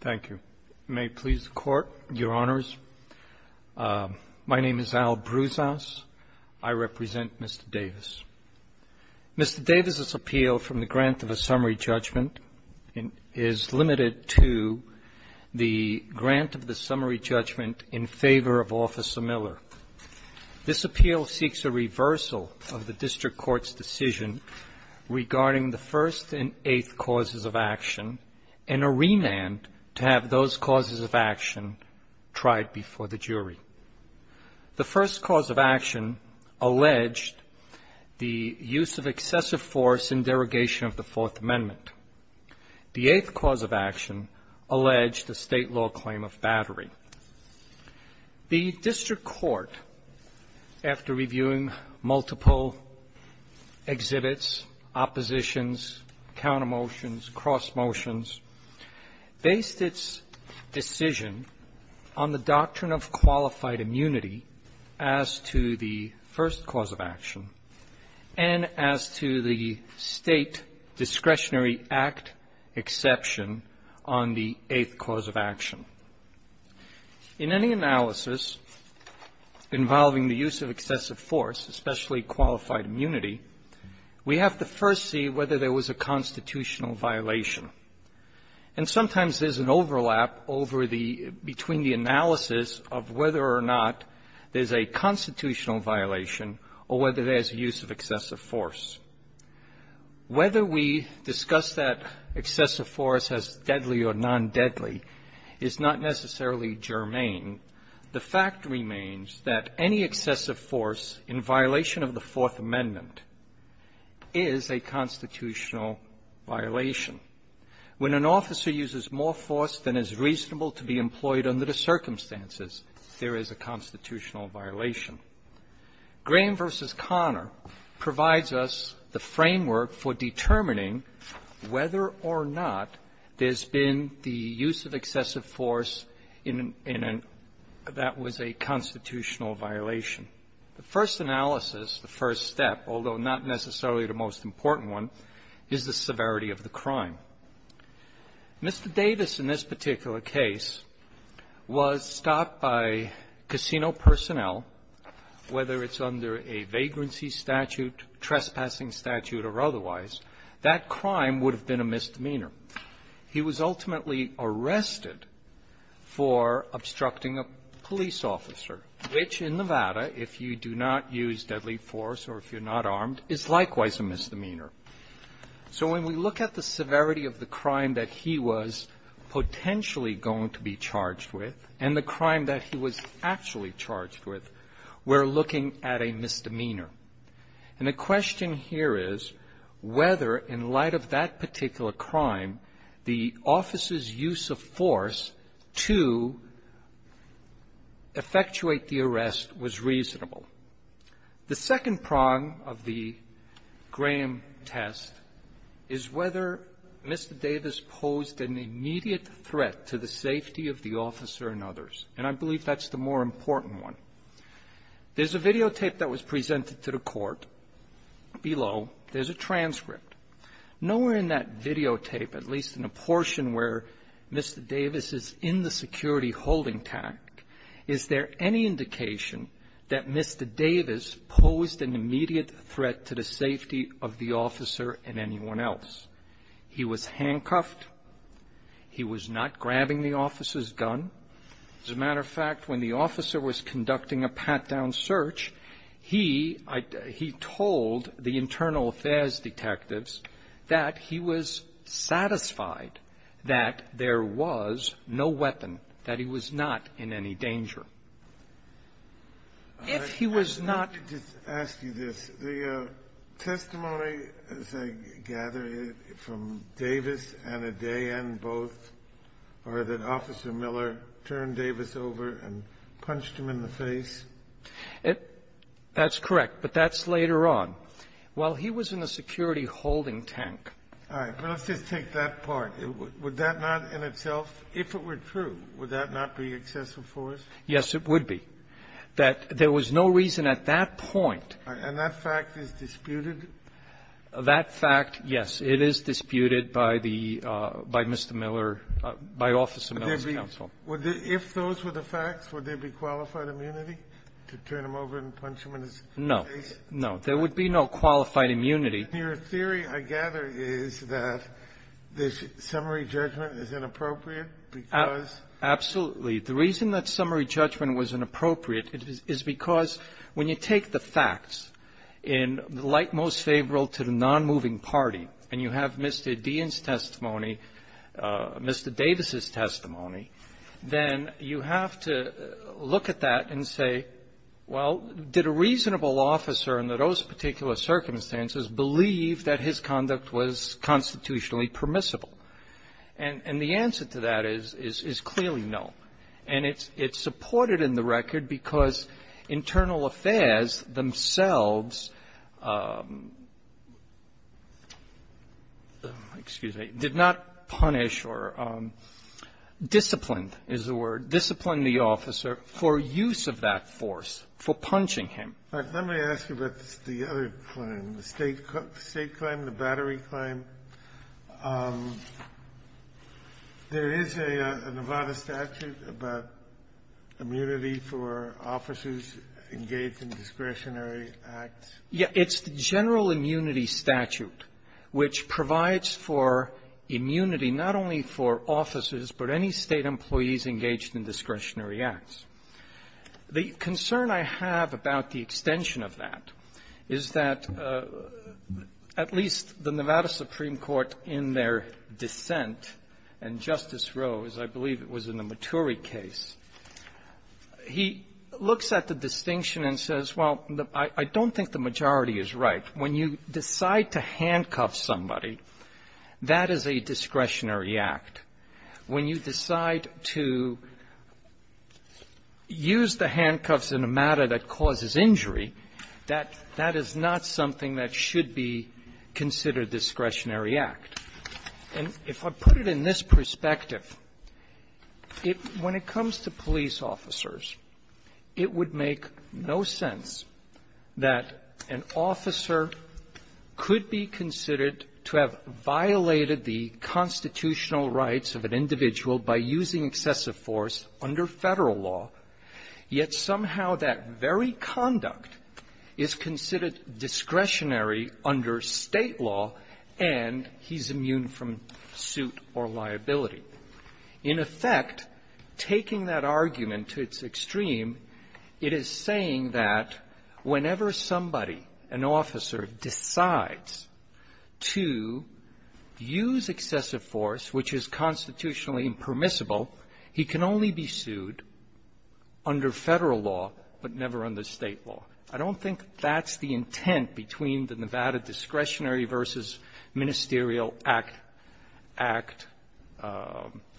Thank you. May it please the Court, Your Honors. My name is Al Broussass. I represent Mr. Davis. Mr. Davis' appeal from the grant of a summary judgment is limited to the grant of the summary judgment in favor of Officer Miller. This appeal seeks a reversal of the District Court's decision regarding the first and eighth causes of action and a remand to have those causes of action tried before the jury. The first cause of action alleged the use of excessive force in derogation of the Fourth Amendment. The eighth cause of action alleged a state law claim of battery. The District Court, after reviewing multiple exhibits, oppositions, countermotions, cross motions, based its decision on the doctrine of qualified immunity as to the first cause of action and as to the State Discretionary Act exception on the eighth cause of action. In any analysis involving the use of excessive force, especially qualified immunity, we have to first see whether there was a constitutional violation. And sometimes there's an overlap over the – between the analysis of whether or not there's a constitutional violation or whether there's use of excessive force. Whether we discuss that excessive force as deadly or non-deadly is not necessarily germane. The fact remains that any excessive force in violation of the Fourth Amendment is a constitutional violation. When an officer uses more force than is reasonable to be employed under the circumstances, there is a constitutional violation. Graham v. Connor provides us the framework for determining whether or not there's been the use of excessive force in an – that was a constitutional violation. The first analysis, the first step, although not necessarily the most important one, is the severity of the crime. Mr. Davis, in this particular case, was stopped by casino personnel, whether it's under a vagrancy statute, trespassing statute, or otherwise. That crime would have been a misdemeanor. He was ultimately arrested for obstructing a police officer, which in Nevada, if you do not use deadly force or if you're not armed, is likewise a misdemeanor. So when we look at the severity of the crime that he was potentially going to be charged with and the crime that he was actually charged with, we're looking at a misdemeanor. And the question here is whether, in light of that particular crime, the officer's use of force to effectuate the arrest was reasonable. The second prong of the Graham test is whether Mr. Davis posed an immediate threat to the safety of the officer and others. And I believe that's the more important one. There's a videotape that was presented to the Court below. There's a transcript. Nowhere in that videotape, at least in a portion where Mr. Davis is in the security holding pact, is there any indication that Mr. Davis posed an immediate threat to the safety of the officer and anyone else. He was handcuffed. He was not grabbing the officer's gun. As a matter of fact, when the officer was conducting a pat-down search, he told the internal affairs detectives that he was satisfied that there was no weapon, that he was not in any danger. If he was not ---- And the other part of it, is it possible that there was no reason at the time of the day, and both, or that Officer Miller turned Davis over and punched him in the face? That's correct. But that's later on. While he was in the security holding tank. All right. But let's just take that part. Would that not in itself, if it were true, would that not be excessive force? Yes, it would be. That there was no reason at that point. And that fact is disputed? That fact, yes. It is disputed by the Mr. Miller, by Officer Miller's counsel. If those were the facts, would there be qualified immunity to turn him over and punch him in his face? No. No. There would be no qualified immunity. Your theory, I gather, is that this summary judgment is inappropriate because ---- The reason the summary judgment was inappropriate is because when you take the facts in the likemost favorable to the nonmoving party, and you have Mr. Deen's testimony, Mr. Davis's testimony, then you have to look at that and say, well, did a reasonable officer under those particular circumstances believe that his conduct was constitutionally permissible? And the answer to that is clearly no. And it's supported in the record because internal affairs themselves, excuse me, did not punish or discipline, is the word, discipline the officer for use of that force, for punching him. But let me ask you about the other claim, the State claim, the Battery claim. There is a Nevada statute about immunity for officers engaged in discretionary acts. Yeah. It's the General Immunity Statute, which provides for immunity not only for officers, but any State employees engaged in discretionary acts. The concern I have about the extension of that is that at least the Nevada Supreme Court in their dissent, and Justice Roe, as I believe it was in the Maturi case, he looks at the distinction and says, well, I don't think the majority is right. When you decide to handcuff somebody, that is a discretionary act. When you decide to use the handcuffs in a matter that causes injury, that is not something that should be considered discretionary act. And if I put it in this perspective, when it comes to police officers, it would make no sense that an officer could be considered to have violated the constitutional rights of an individual by using excessive force under Federal law, yet somehow that very conduct is considered discretionary under State law, and he's immune from suit or liability. In effect, taking that argument to its extreme, it is saying that whenever somebody, an officer, decides to use excessive force, which is constitutionally impermissible, he can only be sued under Federal law, but never under State law. I don't think that's the intent between the Nevada Discretionary v. Ministerial Act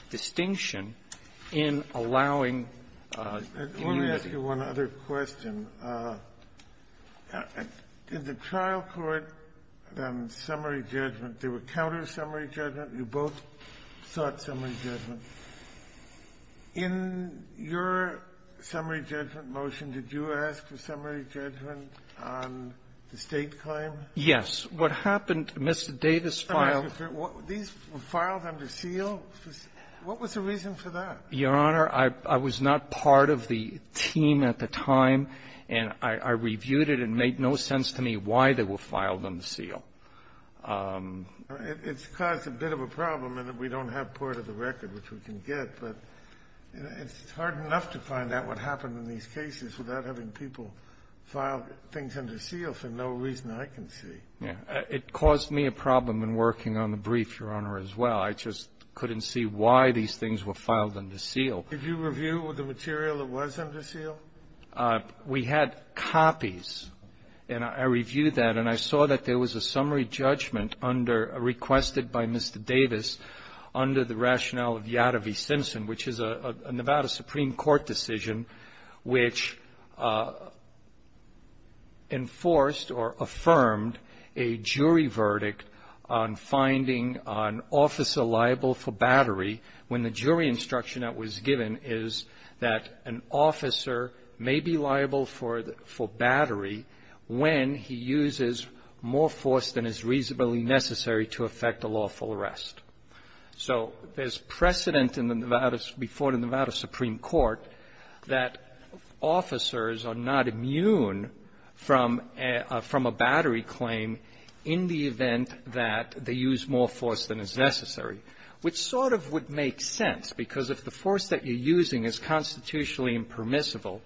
distinction in allowing immunity. I'll ask you one other question. Did the trial court then summary judgment? They were counter-summary judgment. You both sought summary judgment. In your summary judgment motion, did you ask for summary judgment on the State claim? Yes. What happened, Mr. Davis filed under seal? What was the reason for that? Your Honor, I was not part of the team at the time, and I reviewed it, and it made no sense to me why they were filed under seal. It's caused a bit of a problem in that we don't have part of the record which we can get, but it's hard enough to find out what happened in these cases without having people file things under seal for no reason I can see. It caused me a problem in working on the brief, Your Honor, as well. I just couldn't see why these things were filed under seal. Did you review the material that was under seal? We had copies, and I reviewed that, and I saw that there was a summary judgment requested by Mr. Davis under the rationale of Yadav v. Simpson, which is a Nevada Supreme Court decision which enforced or affirmed a jury verdict on finding an officer liable for battery when the jury instruction that was given is that an officer may be liable for battery when he uses more force than is reasonably necessary to effect a lawful arrest. So there's precedent before the Nevada Supreme Court that officers are not immune from a battery claim in the event that they use more force than is necessary, which sort of would make sense, because if the force that you're using is constitutionally impermissible,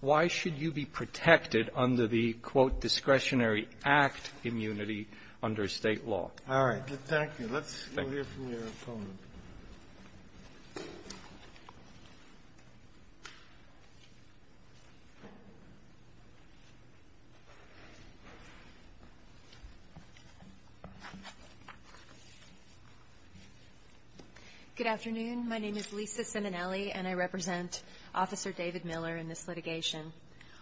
why should you be protected under the, quote, discretionary act immunity under State law? All right. Thank you. Let's hear from your opponent. Good afternoon. My name is Lisa Ciminelli, and I represent Officer David Miller in this litigation.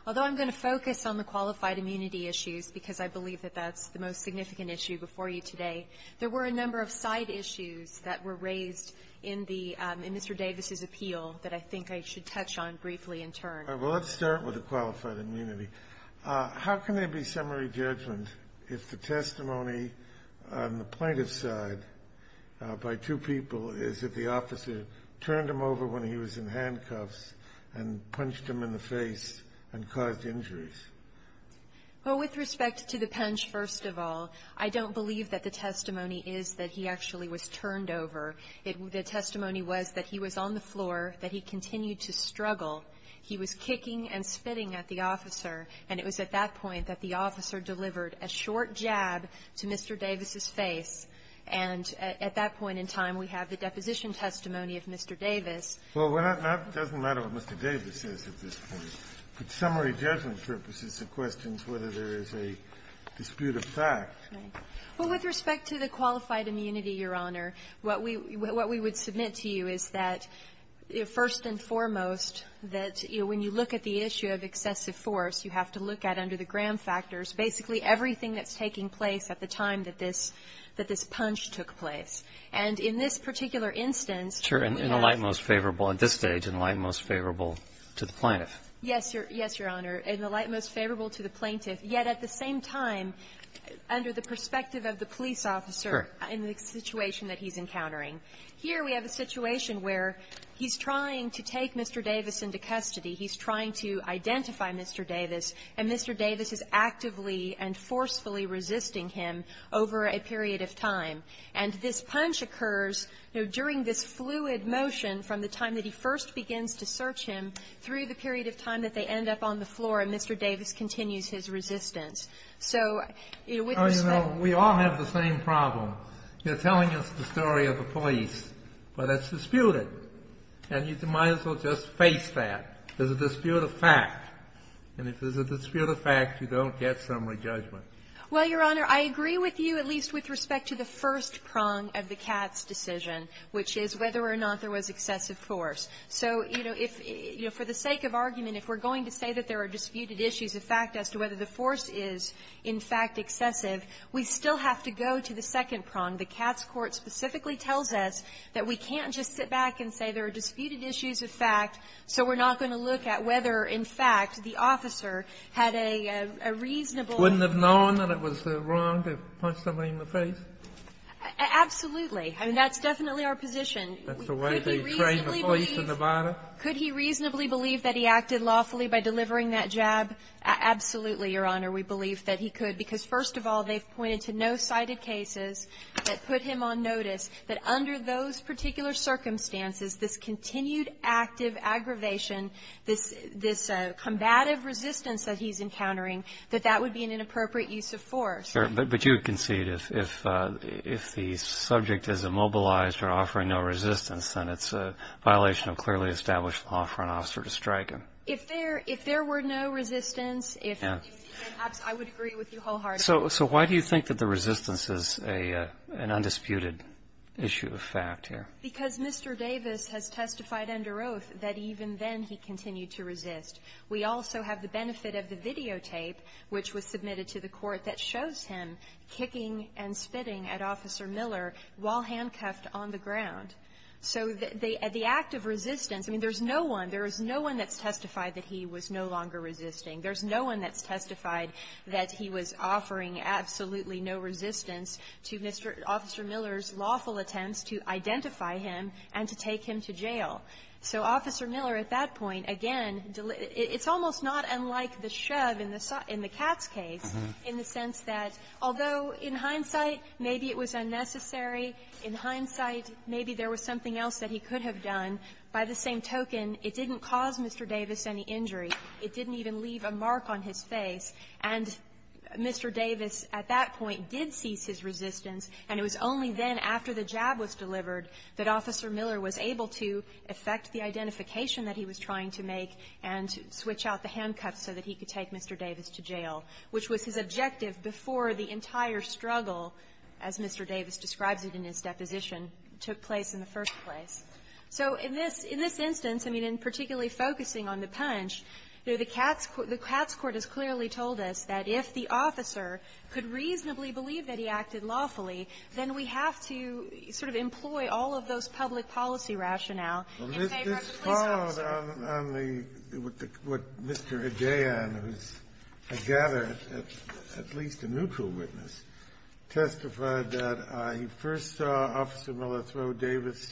Although I'm going to focus on the qualified immunity issues, because I believe that that's the most significant issue before you today, there were a number of side issues that were raised in the Mr. Davis's appeal that I think I should touch on briefly in turn. All right. Well, let's start with the qualified immunity. How can there be summary judgment if the testimony on the plaintiff's side by two people is that the officer turned him over when he was in handcuffs and punched him in the face and caused injuries? Well, with respect to the punch, first of all, I don't believe that the testimony is that he actually was turned over. The testimony was that he was on the floor, that he continued to struggle. He was kicking and spitting at the officer, and it was at that point that the officer delivered a short jab to Mr. Davis's face. And at that point in time, we have the deposition testimony of Mr. Davis. Well, it doesn't matter what Mr. Davis says at this point. But summary judgment purposes the questions whether there is a dispute of fact. Well, with respect to the qualified immunity, Your Honor, what we would submit to you is that, first and foremost, that when you look at the issue of excessive force, you have to look at under the Graham factors basically everything that's taking place at the time that this punch took place. And in this particular instance, we have to look at the facts. And in the light most favorable, at this stage, in the light most favorable to the plaintiff. Yes, Your Honor. In the light most favorable to the plaintiff, yet at the same time, under the perspective of the police officer in the situation that he's encountering, here we have a situation where he's trying to take Mr. Davis into custody. He's trying to identify Mr. Davis, and Mr. Davis is actively and forcefully resisting him over a period of time. And this punch occurs during this fluid motion from the time that he first begins to search him through the period of time that they end up on the floor, and Mr. Davis continues his resistance. So with respect to the case of Mr. Davis, we have to look at the facts, and we have to look at the facts. And if there's a dispute of fact, you don't get summary judgment. Well, Your Honor, I agree with you, at least with respect to the first prong of the Katz decision, which is whether or not there was excessive force. So, you know, if you know, for the sake of argument, if we're going to say that there are disputed issues of fact as to whether the force is, in fact, excessive, we still have to go to the second prong. The Katz court specifically tells us that we can't just sit back and say there are disputed issues of fact, so we're not going to look at whether, in fact, the officer had a reasonable ---- Wouldn't have known that it was wrong to punch somebody in the face? Absolutely. I mean, that's definitely our position. That's the way they train the police in Nevada. Could he reasonably believe that he acted lawfully by delivering that jab? Absolutely, Your Honor, we believe that he could, because, first of all, they've pointed to no cited cases that put him on notice that under those particular circumstances, this continued active aggravation, this combative resistance that he's encountering, that that would be an inappropriate use of force. But you concede if the subject is immobilized or offering no resistance, then it's a violation of clearly established law for an officer to strike him. If there were no resistance, if he did, I would agree with you wholeheartedly. So why do you think that the resistance is an undisputed issue of fact here? Because Mr. Davis has testified under oath that even then he continued to resist. We also have the benefit of the videotape, which was submitted to the court, that shows him kicking and spitting at Officer Miller while handcuffed on the ground. So the act of resistance, I mean, there's no one, there is no one that's testified that he was no longer resisting. There's no one that's testified that he was offering absolutely no resistance to Officer Miller's lawful attempts to identify him and to take him to jail. So Officer Miller at that point, again, it's almost not unlike the shove in the Katz case, in the sense that, although in hindsight, maybe it was unnecessary, in hindsight, maybe there was something else that he could have done. By the same token, it didn't cause Mr. Davis any injury. It didn't even leave a mark on his face. And Mr. Davis at that point did cease his resistance, and it was only then, after the jab was delivered, that Officer Miller was able to effect the identification that he was trying to make and switch out the handcuffs so that he could take Mr. Davis to jail, which was his objective before the entire struggle, as Mr. Davis describes it in his deposition, took place in the first place. So in this instance, I mean, in particularly focusing on the punch, the Katz court has clearly told us that if the officer could reasonably believe that he acted lawfully, then we have to sort of employ all of those public policy rationale in favor of the police officer. Kennedy, this followed on the Mr. Adjayan, who is, I gather, at least a neutral witness, testified that he first saw Officer Miller throw Davis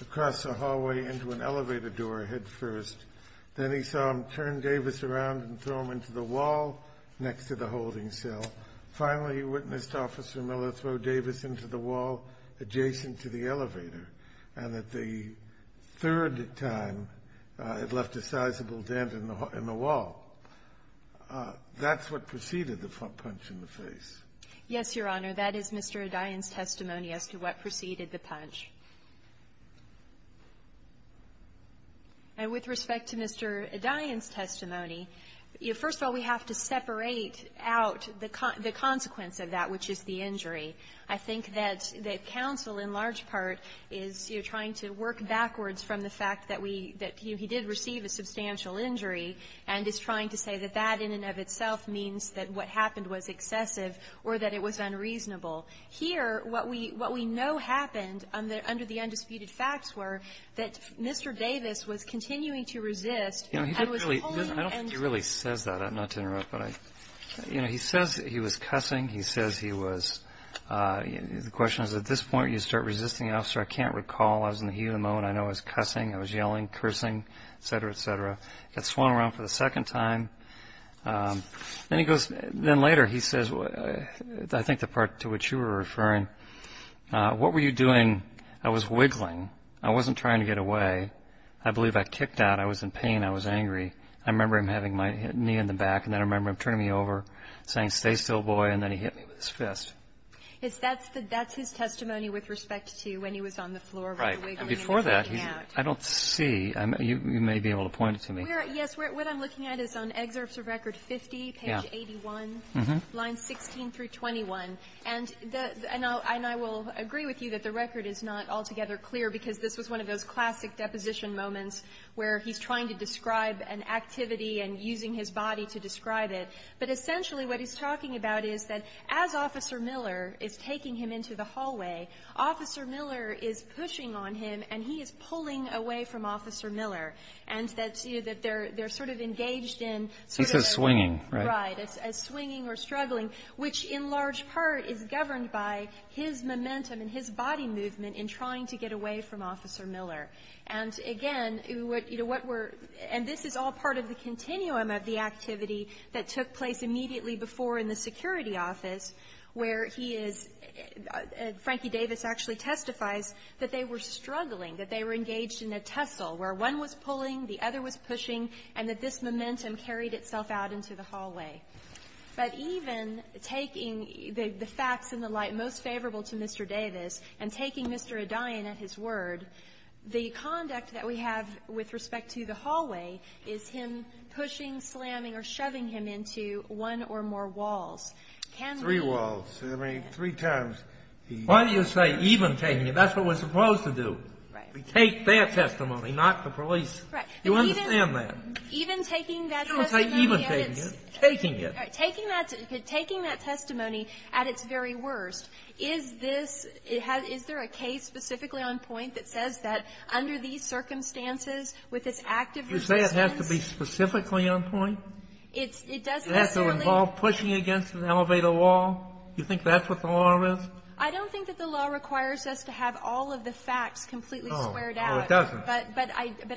across a hallway into an elevator door headfirst. Then he saw him turn Davis around and throw him into the wall next to the holding cell. Finally, he witnessed Officer Miller throw Davis into the wall adjacent to the elevator, and that the third time, it left a sizable dent in the wall. That's what preceded the punch in the face. Yes, Your Honor. That is Mr. Adjayan's testimony as to what preceded the punch. And with respect to Mr. Adjayan's testimony, first of all, we have to separate out the consequence of that, which is the injury. I think that counsel, in large part, is trying to work backwards from the fact that we – that he did receive a substantial injury and is trying to say that that in and of itself means that what happened was excessive or that it was unreasonable. Here, what we know happened under the undisputed facts were that Mr. Davis was continuing to resist and was holding and – He says he was cussing. He says he was – the question is, at this point, you start resisting an officer. I can't recall. I was in the heat of the moment. I know I was cussing. I was yelling, cursing, et cetera, et cetera. He got swung around for the second time. Then he goes – then later, he says, I think the part to which you were referring, what were you doing? I was wiggling. I wasn't trying to get away. I believe I kicked out. I was in pain. I was angry. I remember him having my knee in the back. And then I remember him turning me over, saying, stay still, boy. And then he hit me with his fist. That's his testimony with respect to when he was on the floor wiggling and kicking out. Right. Before that, I don't see – you may be able to point it to me. Yes. What I'm looking at is on Excerpts of Record 50, page 81, lines 16 through 21. And I will agree with you that the record is not altogether clear because this was one of those classic deposition moments where he's trying to describe an activity and using his body to describe it. But essentially, what he's talking about is that as Officer Miller is taking him into the hallway, Officer Miller is pushing on him. And he is pulling away from Officer Miller. And that they're sort of engaged in sort of – He says swinging, right? Right. As swinging or struggling, which in large part is governed by his momentum and his body movement in trying to get away from Officer Miller. And again, what we're – and this is all part of the continuum of the activity that took place immediately before in the security office where he is – Frankie Davis actually testifies that they were struggling, that they were engaged in a tussle where one was pulling, the other was pushing, and that this momentum carried itself out into the hallway. But even taking the facts in the light most favorable to Mr. Davis and taking Mr. O'Dayen at his word, the conduct that we have with respect to the hallway is him pushing, slamming, or shoving him into one or more walls. Can we – Three walls. I mean, three times he – Why do you say even taking him? That's what we're supposed to do. Right. We take their testimony, not the police. Correct. You understand that. Even taking that testimony – You don't say even taking it. Taking it. Taking that – taking that testimony at its very worst, is this – is there a case specifically on point that says that under these circumstances with this active resistance You say it has to be specifically on point? It doesn't necessarily – It has to involve pushing against an elevator wall? You think that's what the law is? I don't think that the law requires us to have all of the facts completely squared out. Oh, it doesn't. But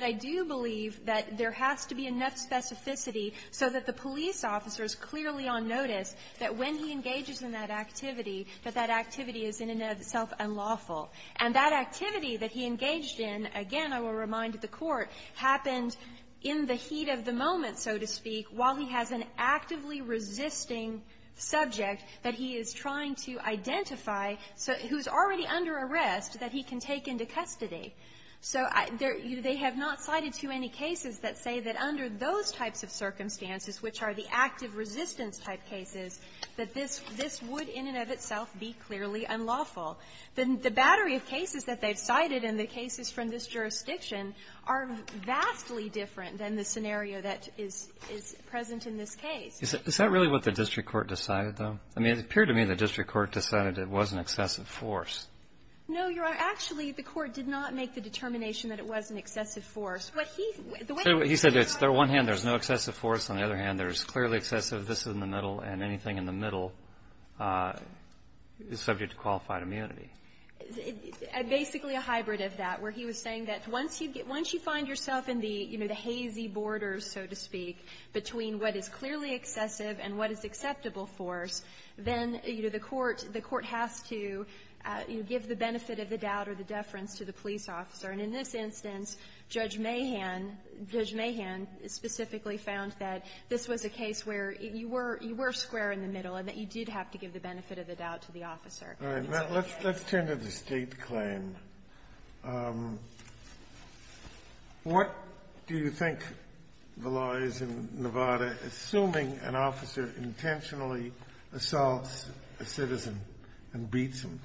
I do believe that there has to be enough specificity so that the police officer is clearly on notice that when he engages in that activity, that that activity is in and of itself unlawful. And that activity that he engaged in, again, I will remind the Court, happened in the heat of the moment, so to speak, while he has an actively resisting subject that he is trying to identify who's already under arrest that he can take into custody. So there – they have not cited too many cases that say that under those types of circumstances, which are the active resistance type cases, that this – this would in and of itself be clearly unlawful. The battery of cases that they've cited and the cases from this jurisdiction are vastly different than the scenario that is – is present in this case. Is that really what the district court decided, though? I mean, it appeared to me the district court decided it was an excessive force. No, Your Honor. Actually, the court did not make the determination that it was an excessive force. What he – the way he said it, on one hand, there's no excessive force. On the other hand, there's clearly excessive. This is in the middle, and anything in the middle is subject to qualified immunity. Basically a hybrid of that, where he was saying that once you get – once you find yourself in the, you know, the hazy borders, so to speak, between what is clearly you give the benefit of the doubt or the deference to the police officer. And in this instance, Judge Mahan – Judge Mahan specifically found that this was a case where you were – you were square in the middle and that you did have to give the benefit of the doubt to the officer. All right. Now, let's turn to the State claim. What do you think the law is in Nevada, assuming an officer intentionally assaults a citizen and beats him?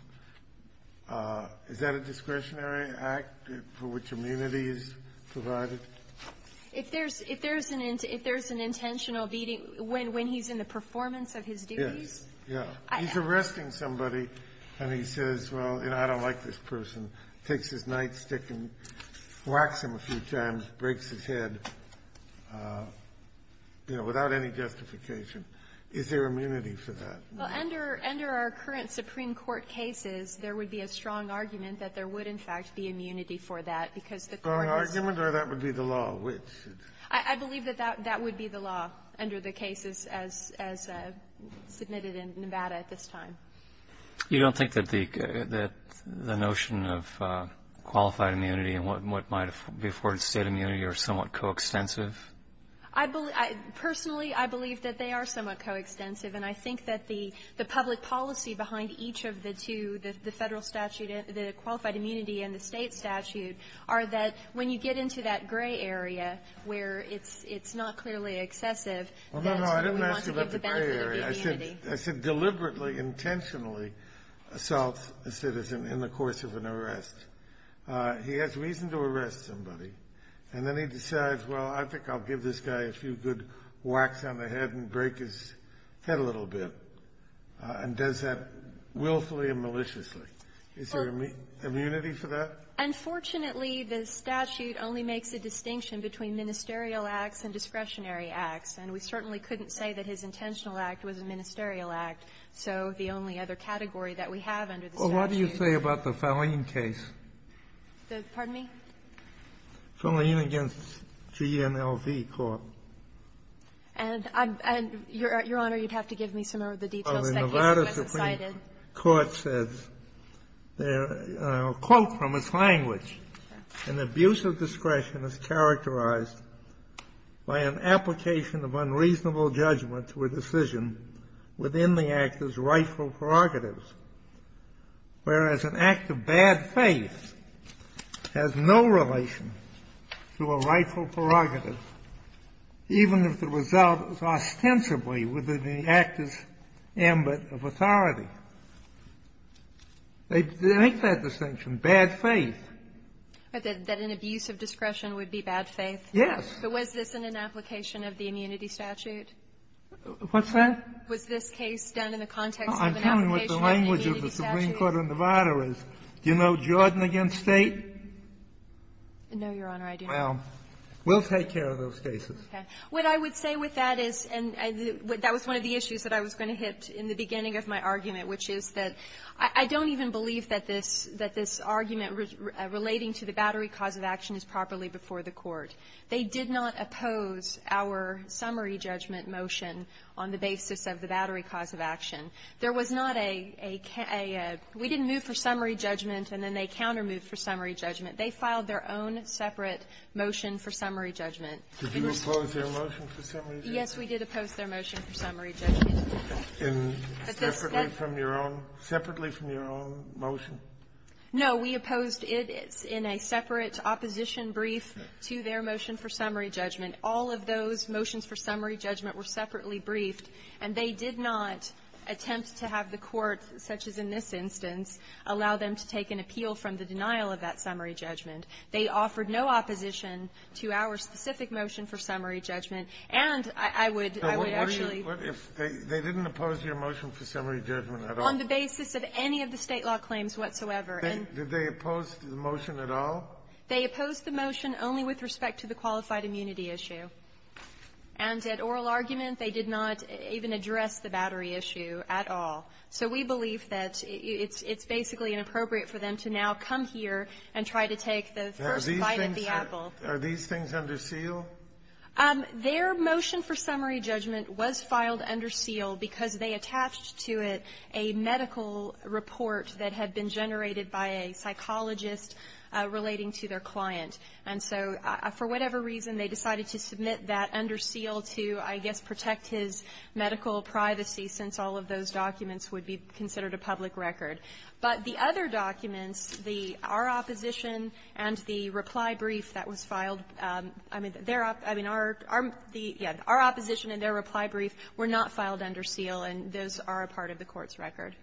Is that a discretionary act for which immunity is provided? If there's – if there's an intentional beating when he's in the performance of his duties? Yes. Yeah. He's arresting somebody, and he says, well, you know, I don't like this person, takes his nightstick and whacks him a few times, breaks his head, you know, without any justification. Is there immunity for that? Well, under – under our current Supreme Court cases, there would be a strong argument that there would, in fact, be immunity for that, because the court is – A strong argument, or that would be the law? I believe that that would be the law under the cases as – as submitted in Nevada at this time. You don't think that the notion of qualified immunity and what might be afforded State immunity are somewhat coextensive? I believe – personally, I believe that they are somewhat coextensive, and I think that the – the public policy behind each of the two, the Federal statute – the qualified immunity and the State statute are that when you get into that gray area where it's – it's not clearly excessive, that's when we want to give the benefit Well, no, no, I didn't ask about the gray area. I said deliberately, intentionally assaults a citizen in the course of an arrest. He has reason to arrest somebody, and then he decides, well, I think I'll give this guy a few good whacks on the head and break his head a little bit, and does that willfully and maliciously. Is there immunity for that? Unfortunately, the statute only makes a distinction between ministerial acts and discretionary acts, and we certainly couldn't say that his intentional act was a ministerial act. So the only other category that we have under the statute – Sotomayor, what do you say about the Faleen case? The – pardon me? Faleen against GNLV Court. And I'm – and, Your Honor, you'd have to give me some of the details of that case that I've cited. Well, the Nevada Supreme Court says there – a quote from its language. Okay. An abuse of discretion is characterized by an application of unreasonable judgment to a decision within the actor's rightful prerogatives, whereas an act of bad faith has no relation to a rightful prerogative, even if the result is ostensibly within the actor's ambit of authority. They make that distinction, bad faith. That an abuse of discretion would be bad faith? Yes. But was this in an application of the immunity statute? What's that? Was this case done in the context of an application of an immunity statute? Well, I'm telling you what the language of the Supreme Court of Nevada is. Do you know Jordan against State? No, Your Honor, I do not. Well, we'll take care of those cases. Okay. What I would say with that is – and that was one of the issues that I was going to hit in the beginning of my argument, which is that I don't even believe that this – that this argument relating to the battery cause of action is properly before the Court. They did not oppose our summary judgment motion on the basis of the battery cause of action. There was not a – we didn't move for summary judgment, and then they countermoved for summary judgment. They filed their own separate motion for summary judgment. Did you oppose their motion for summary judgment? Yes, we did oppose their motion for summary judgment. And separately from your own – separately from your own motion? No. We opposed it in a separate opposition brief to their motion for summary judgment. All of those motions for summary judgment were separately briefed, and they did not attempt to have the Court, such as in this instance, allow them to take an appeal from the denial of that summary judgment. They offered no opposition to our specific motion for summary judgment. And I would – I would actually – What are you – if they didn't oppose your motion for summary judgment at all? On the basis of any of the State law claims whatsoever. And – Did they oppose the motion at all? They opposed the motion only with respect to the qualified immunity issue. And at oral argument, they did not even address the battery issue at all. So we believe that it's basically inappropriate for them to now come here and try to take the first bite of the apple. Are these things under seal? Their motion for summary judgment was filed under seal because they attached to it a medical report that had been generated by a psychologist relating to their client. And so for whatever reason, they decided to submit that under seal to, I guess, protect his medical privacy, since all of those documents would be considered a public record. But the other documents, the – our opposition and the reply brief that was filed – I mean, their – I mean, our – our – yeah. We're not filed under seal, and those are a part of the Court's record.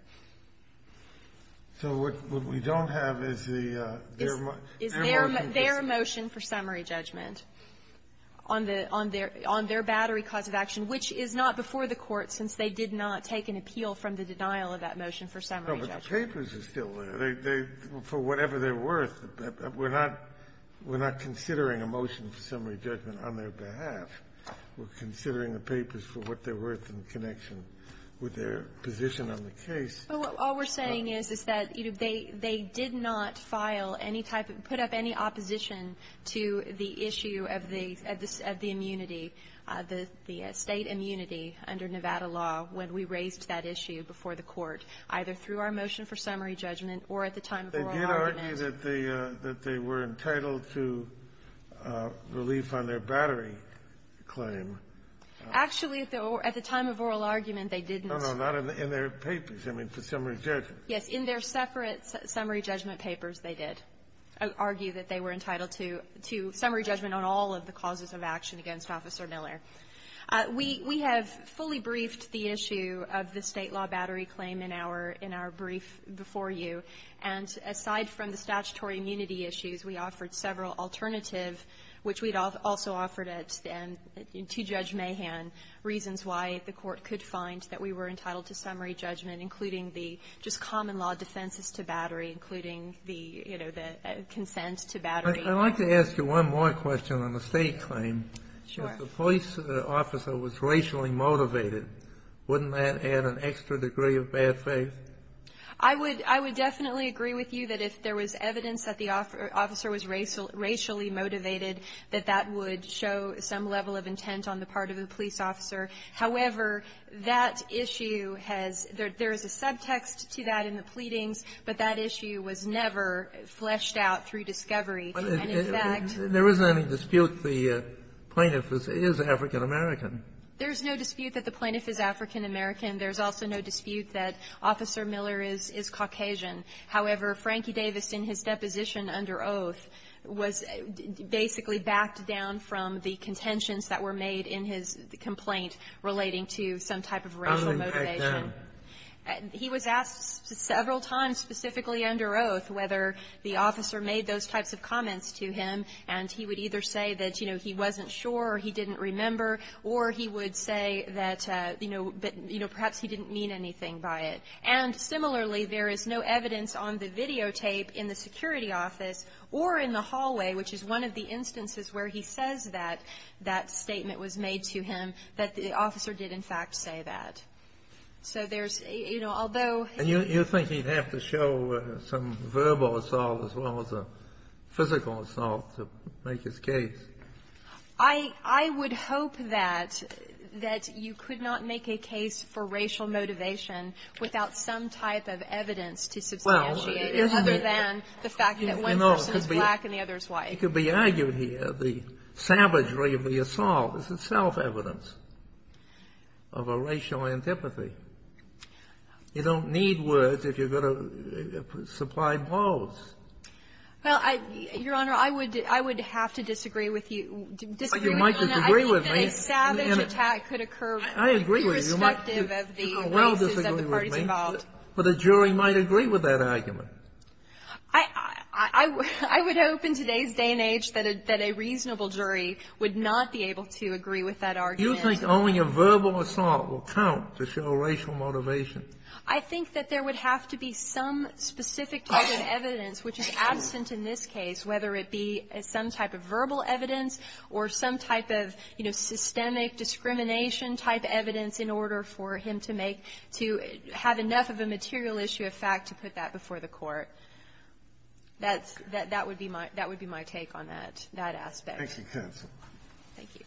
So what we don't have is the – their motion for summary judgment. Is their – their motion for summary judgment on the – on their – on their battery cause of action, which is not before the Court, since they did not take an appeal from the denial of that motion for summary judgment. No, but the papers are still there. They – for whatever they're worth, we're not – we're not considering a motion for summary judgment on their behalf. We're considering the papers for what they're worth in connection with their position on the case. But what we're saying is, is that, you know, they – they did not file any type of – put up any opposition to the issue of the – of the immunity, the state immunity under Nevada law when we raised that issue before the Court, either through our motion for summary judgment or at the time of oral argument. But you say that they – that they were entitled to relief on their battery claim. Actually, at the – at the time of oral argument, they didn't. No, no, not in their papers. I mean, for summary judgment. Yes. In their separate summary judgment papers, they did argue that they were entitled to – to summary judgment on all of the causes of action against Officer Miller. We – we have fully briefed the issue of the State law battery claim in our – in our brief before you. And aside from the statutory immunity issues, we offered several alternative which we'd also offered at – to Judge Mahan, reasons why the Court could find that we were entitled to summary judgment, including the just common law defenses to battery, including the, you know, the consent to battery. I'd like to ask you one more question on the State claim. Sure. If the police officer was racially motivated, wouldn't that add an extra degree of bad faith? I would – I would definitely agree with you that if there was evidence that the officer was racial – racially motivated, that that would show some level of intent on the part of the police officer. However, that issue has – there is a subtext to that in the pleadings, but that issue was never fleshed out through discovery. And in fact – There isn't any dispute the plaintiff is African-American. There is no dispute that the plaintiff is African-American. There is also no dispute that Officer Miller is – is Caucasian. However, Frankie Davis, in his deposition under oath, was basically backed down from the contentions that were made in his complaint relating to some type of racial motivation. He was asked several times, specifically under oath, whether the officer made those types of comments to him, and he would either say that, you know, he wasn't sure or he didn't remember, or he would say that, you know, perhaps he didn't mean anything by it. And similarly, there is no evidence on the videotape in the security office or in the hallway, which is one of the instances where he says that that statement was made to him, that the officer did in fact say that. So there's – you know, although he – And you think he'd have to show some verbal assault as well as a physical assault to make his case? I – I would hope that – that you could not make a case for racial motivation without some type of evidence to substantiate it, other than the fact that one person is black and the other is white. It could be argued here the savagery of the assault is itself evidence of a racial antipathy. You don't need words if you're going to supply both. Well, Your Honor, I would – I would have to disagree with you – disagree with you on that. But you might disagree with me. I think that a savage attack could occur irrespective of the races that the parties involved. But a jury might agree with that argument. I – I would hope in today's day and age that a reasonable jury would not be able to agree with that argument. Do you think only a verbal assault will count to show racial motivation? I think that there would have to be some specific type of evidence, which is absent in this case, whether it be some type of verbal evidence or some type of, you know, systemic discrimination-type evidence in order for him to make – to have enough of a material issue of fact to put that before the court. That's – that would be my – that would be my take on that – that aspect. Thank you, counsel. Thank you.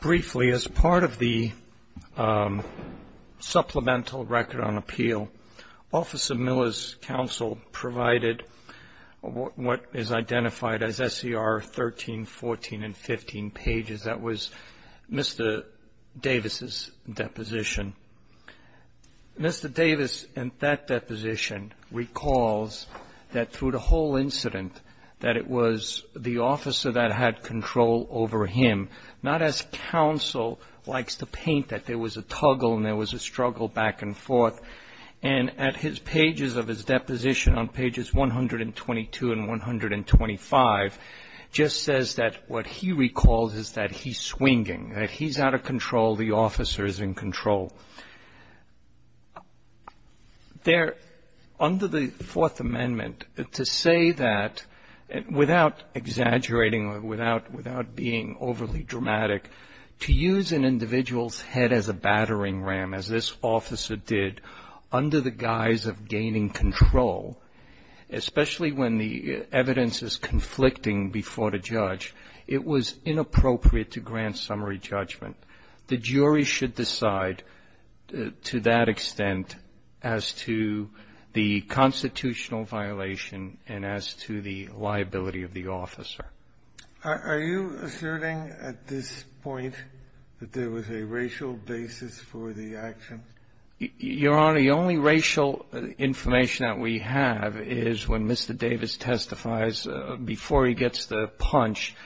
Briefly, as part of the supplemental record on appeal, Officer Miller's counsel provided what is identified as SCR 13, 14, and 15 pages. That was Mr. Davis's deposition. Mr. Davis in that deposition recalls that through the whole incident that it was the officer that had control over him, not as counsel likes to paint that there was a toggle and there was a struggle back and forth. And at his pages of his deposition on pages 122 and 125, just says that what he recalls is that he's swinging, that he's out of control, the officer is in control. There – under the Fourth Amendment, to say that, without exaggerating or without being overly dramatic, to use an individual's head as a battering ram, as this officer did, under the guise of gaining control, especially when the evidence is conflicting before the judge, it was inappropriate to grant summary judgment. The jury should decide, to that extent, as to the constitutional violation and as to the liability of the officer. Are you asserting at this point that there was a racial basis for the action? Your Honor, the only racial information that we have is when Mr. Davis testifies before he gets the punch,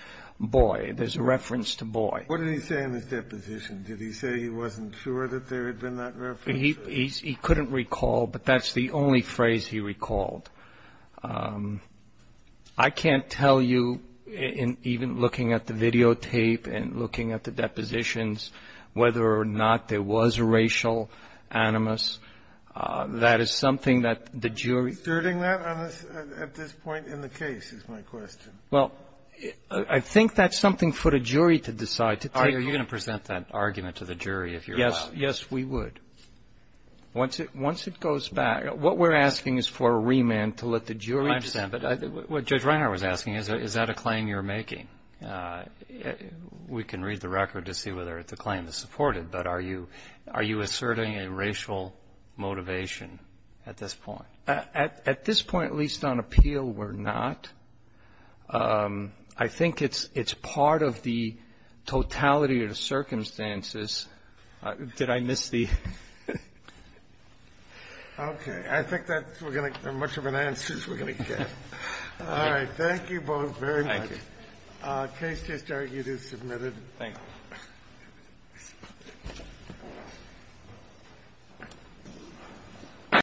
boy, there's a reference to boy. What did he say in his deposition? Did he say he wasn't sure that there had been that reference? He couldn't recall, but that's the only phrase he recalled. I can't tell you, even looking at the videotape and looking at the depositions, whether or not there was a racial animus. That is something that the jury --- Asserting that at this point in the case is my question. Well, I think that's something for the jury to decide. Are you going to present that argument to the jury if you're allowed? Yes. Yes, we would. Once it goes back, what we're asking is for a remand to let the jury decide. I understand. But what Judge Reinhart was asking, is that a claim you're making? We can read the record to see whether the claim is supported, but are you asserting that you're having a racial motivation at this point? At this point, at least on appeal, we're not. I think it's part of the totality of the circumstances. Did I miss the --? Okay. I think that's going to be much of an answer we're going to get. All right. Thank you both very much. Thank you. The case just argued is submitted. Thank you. Thank you.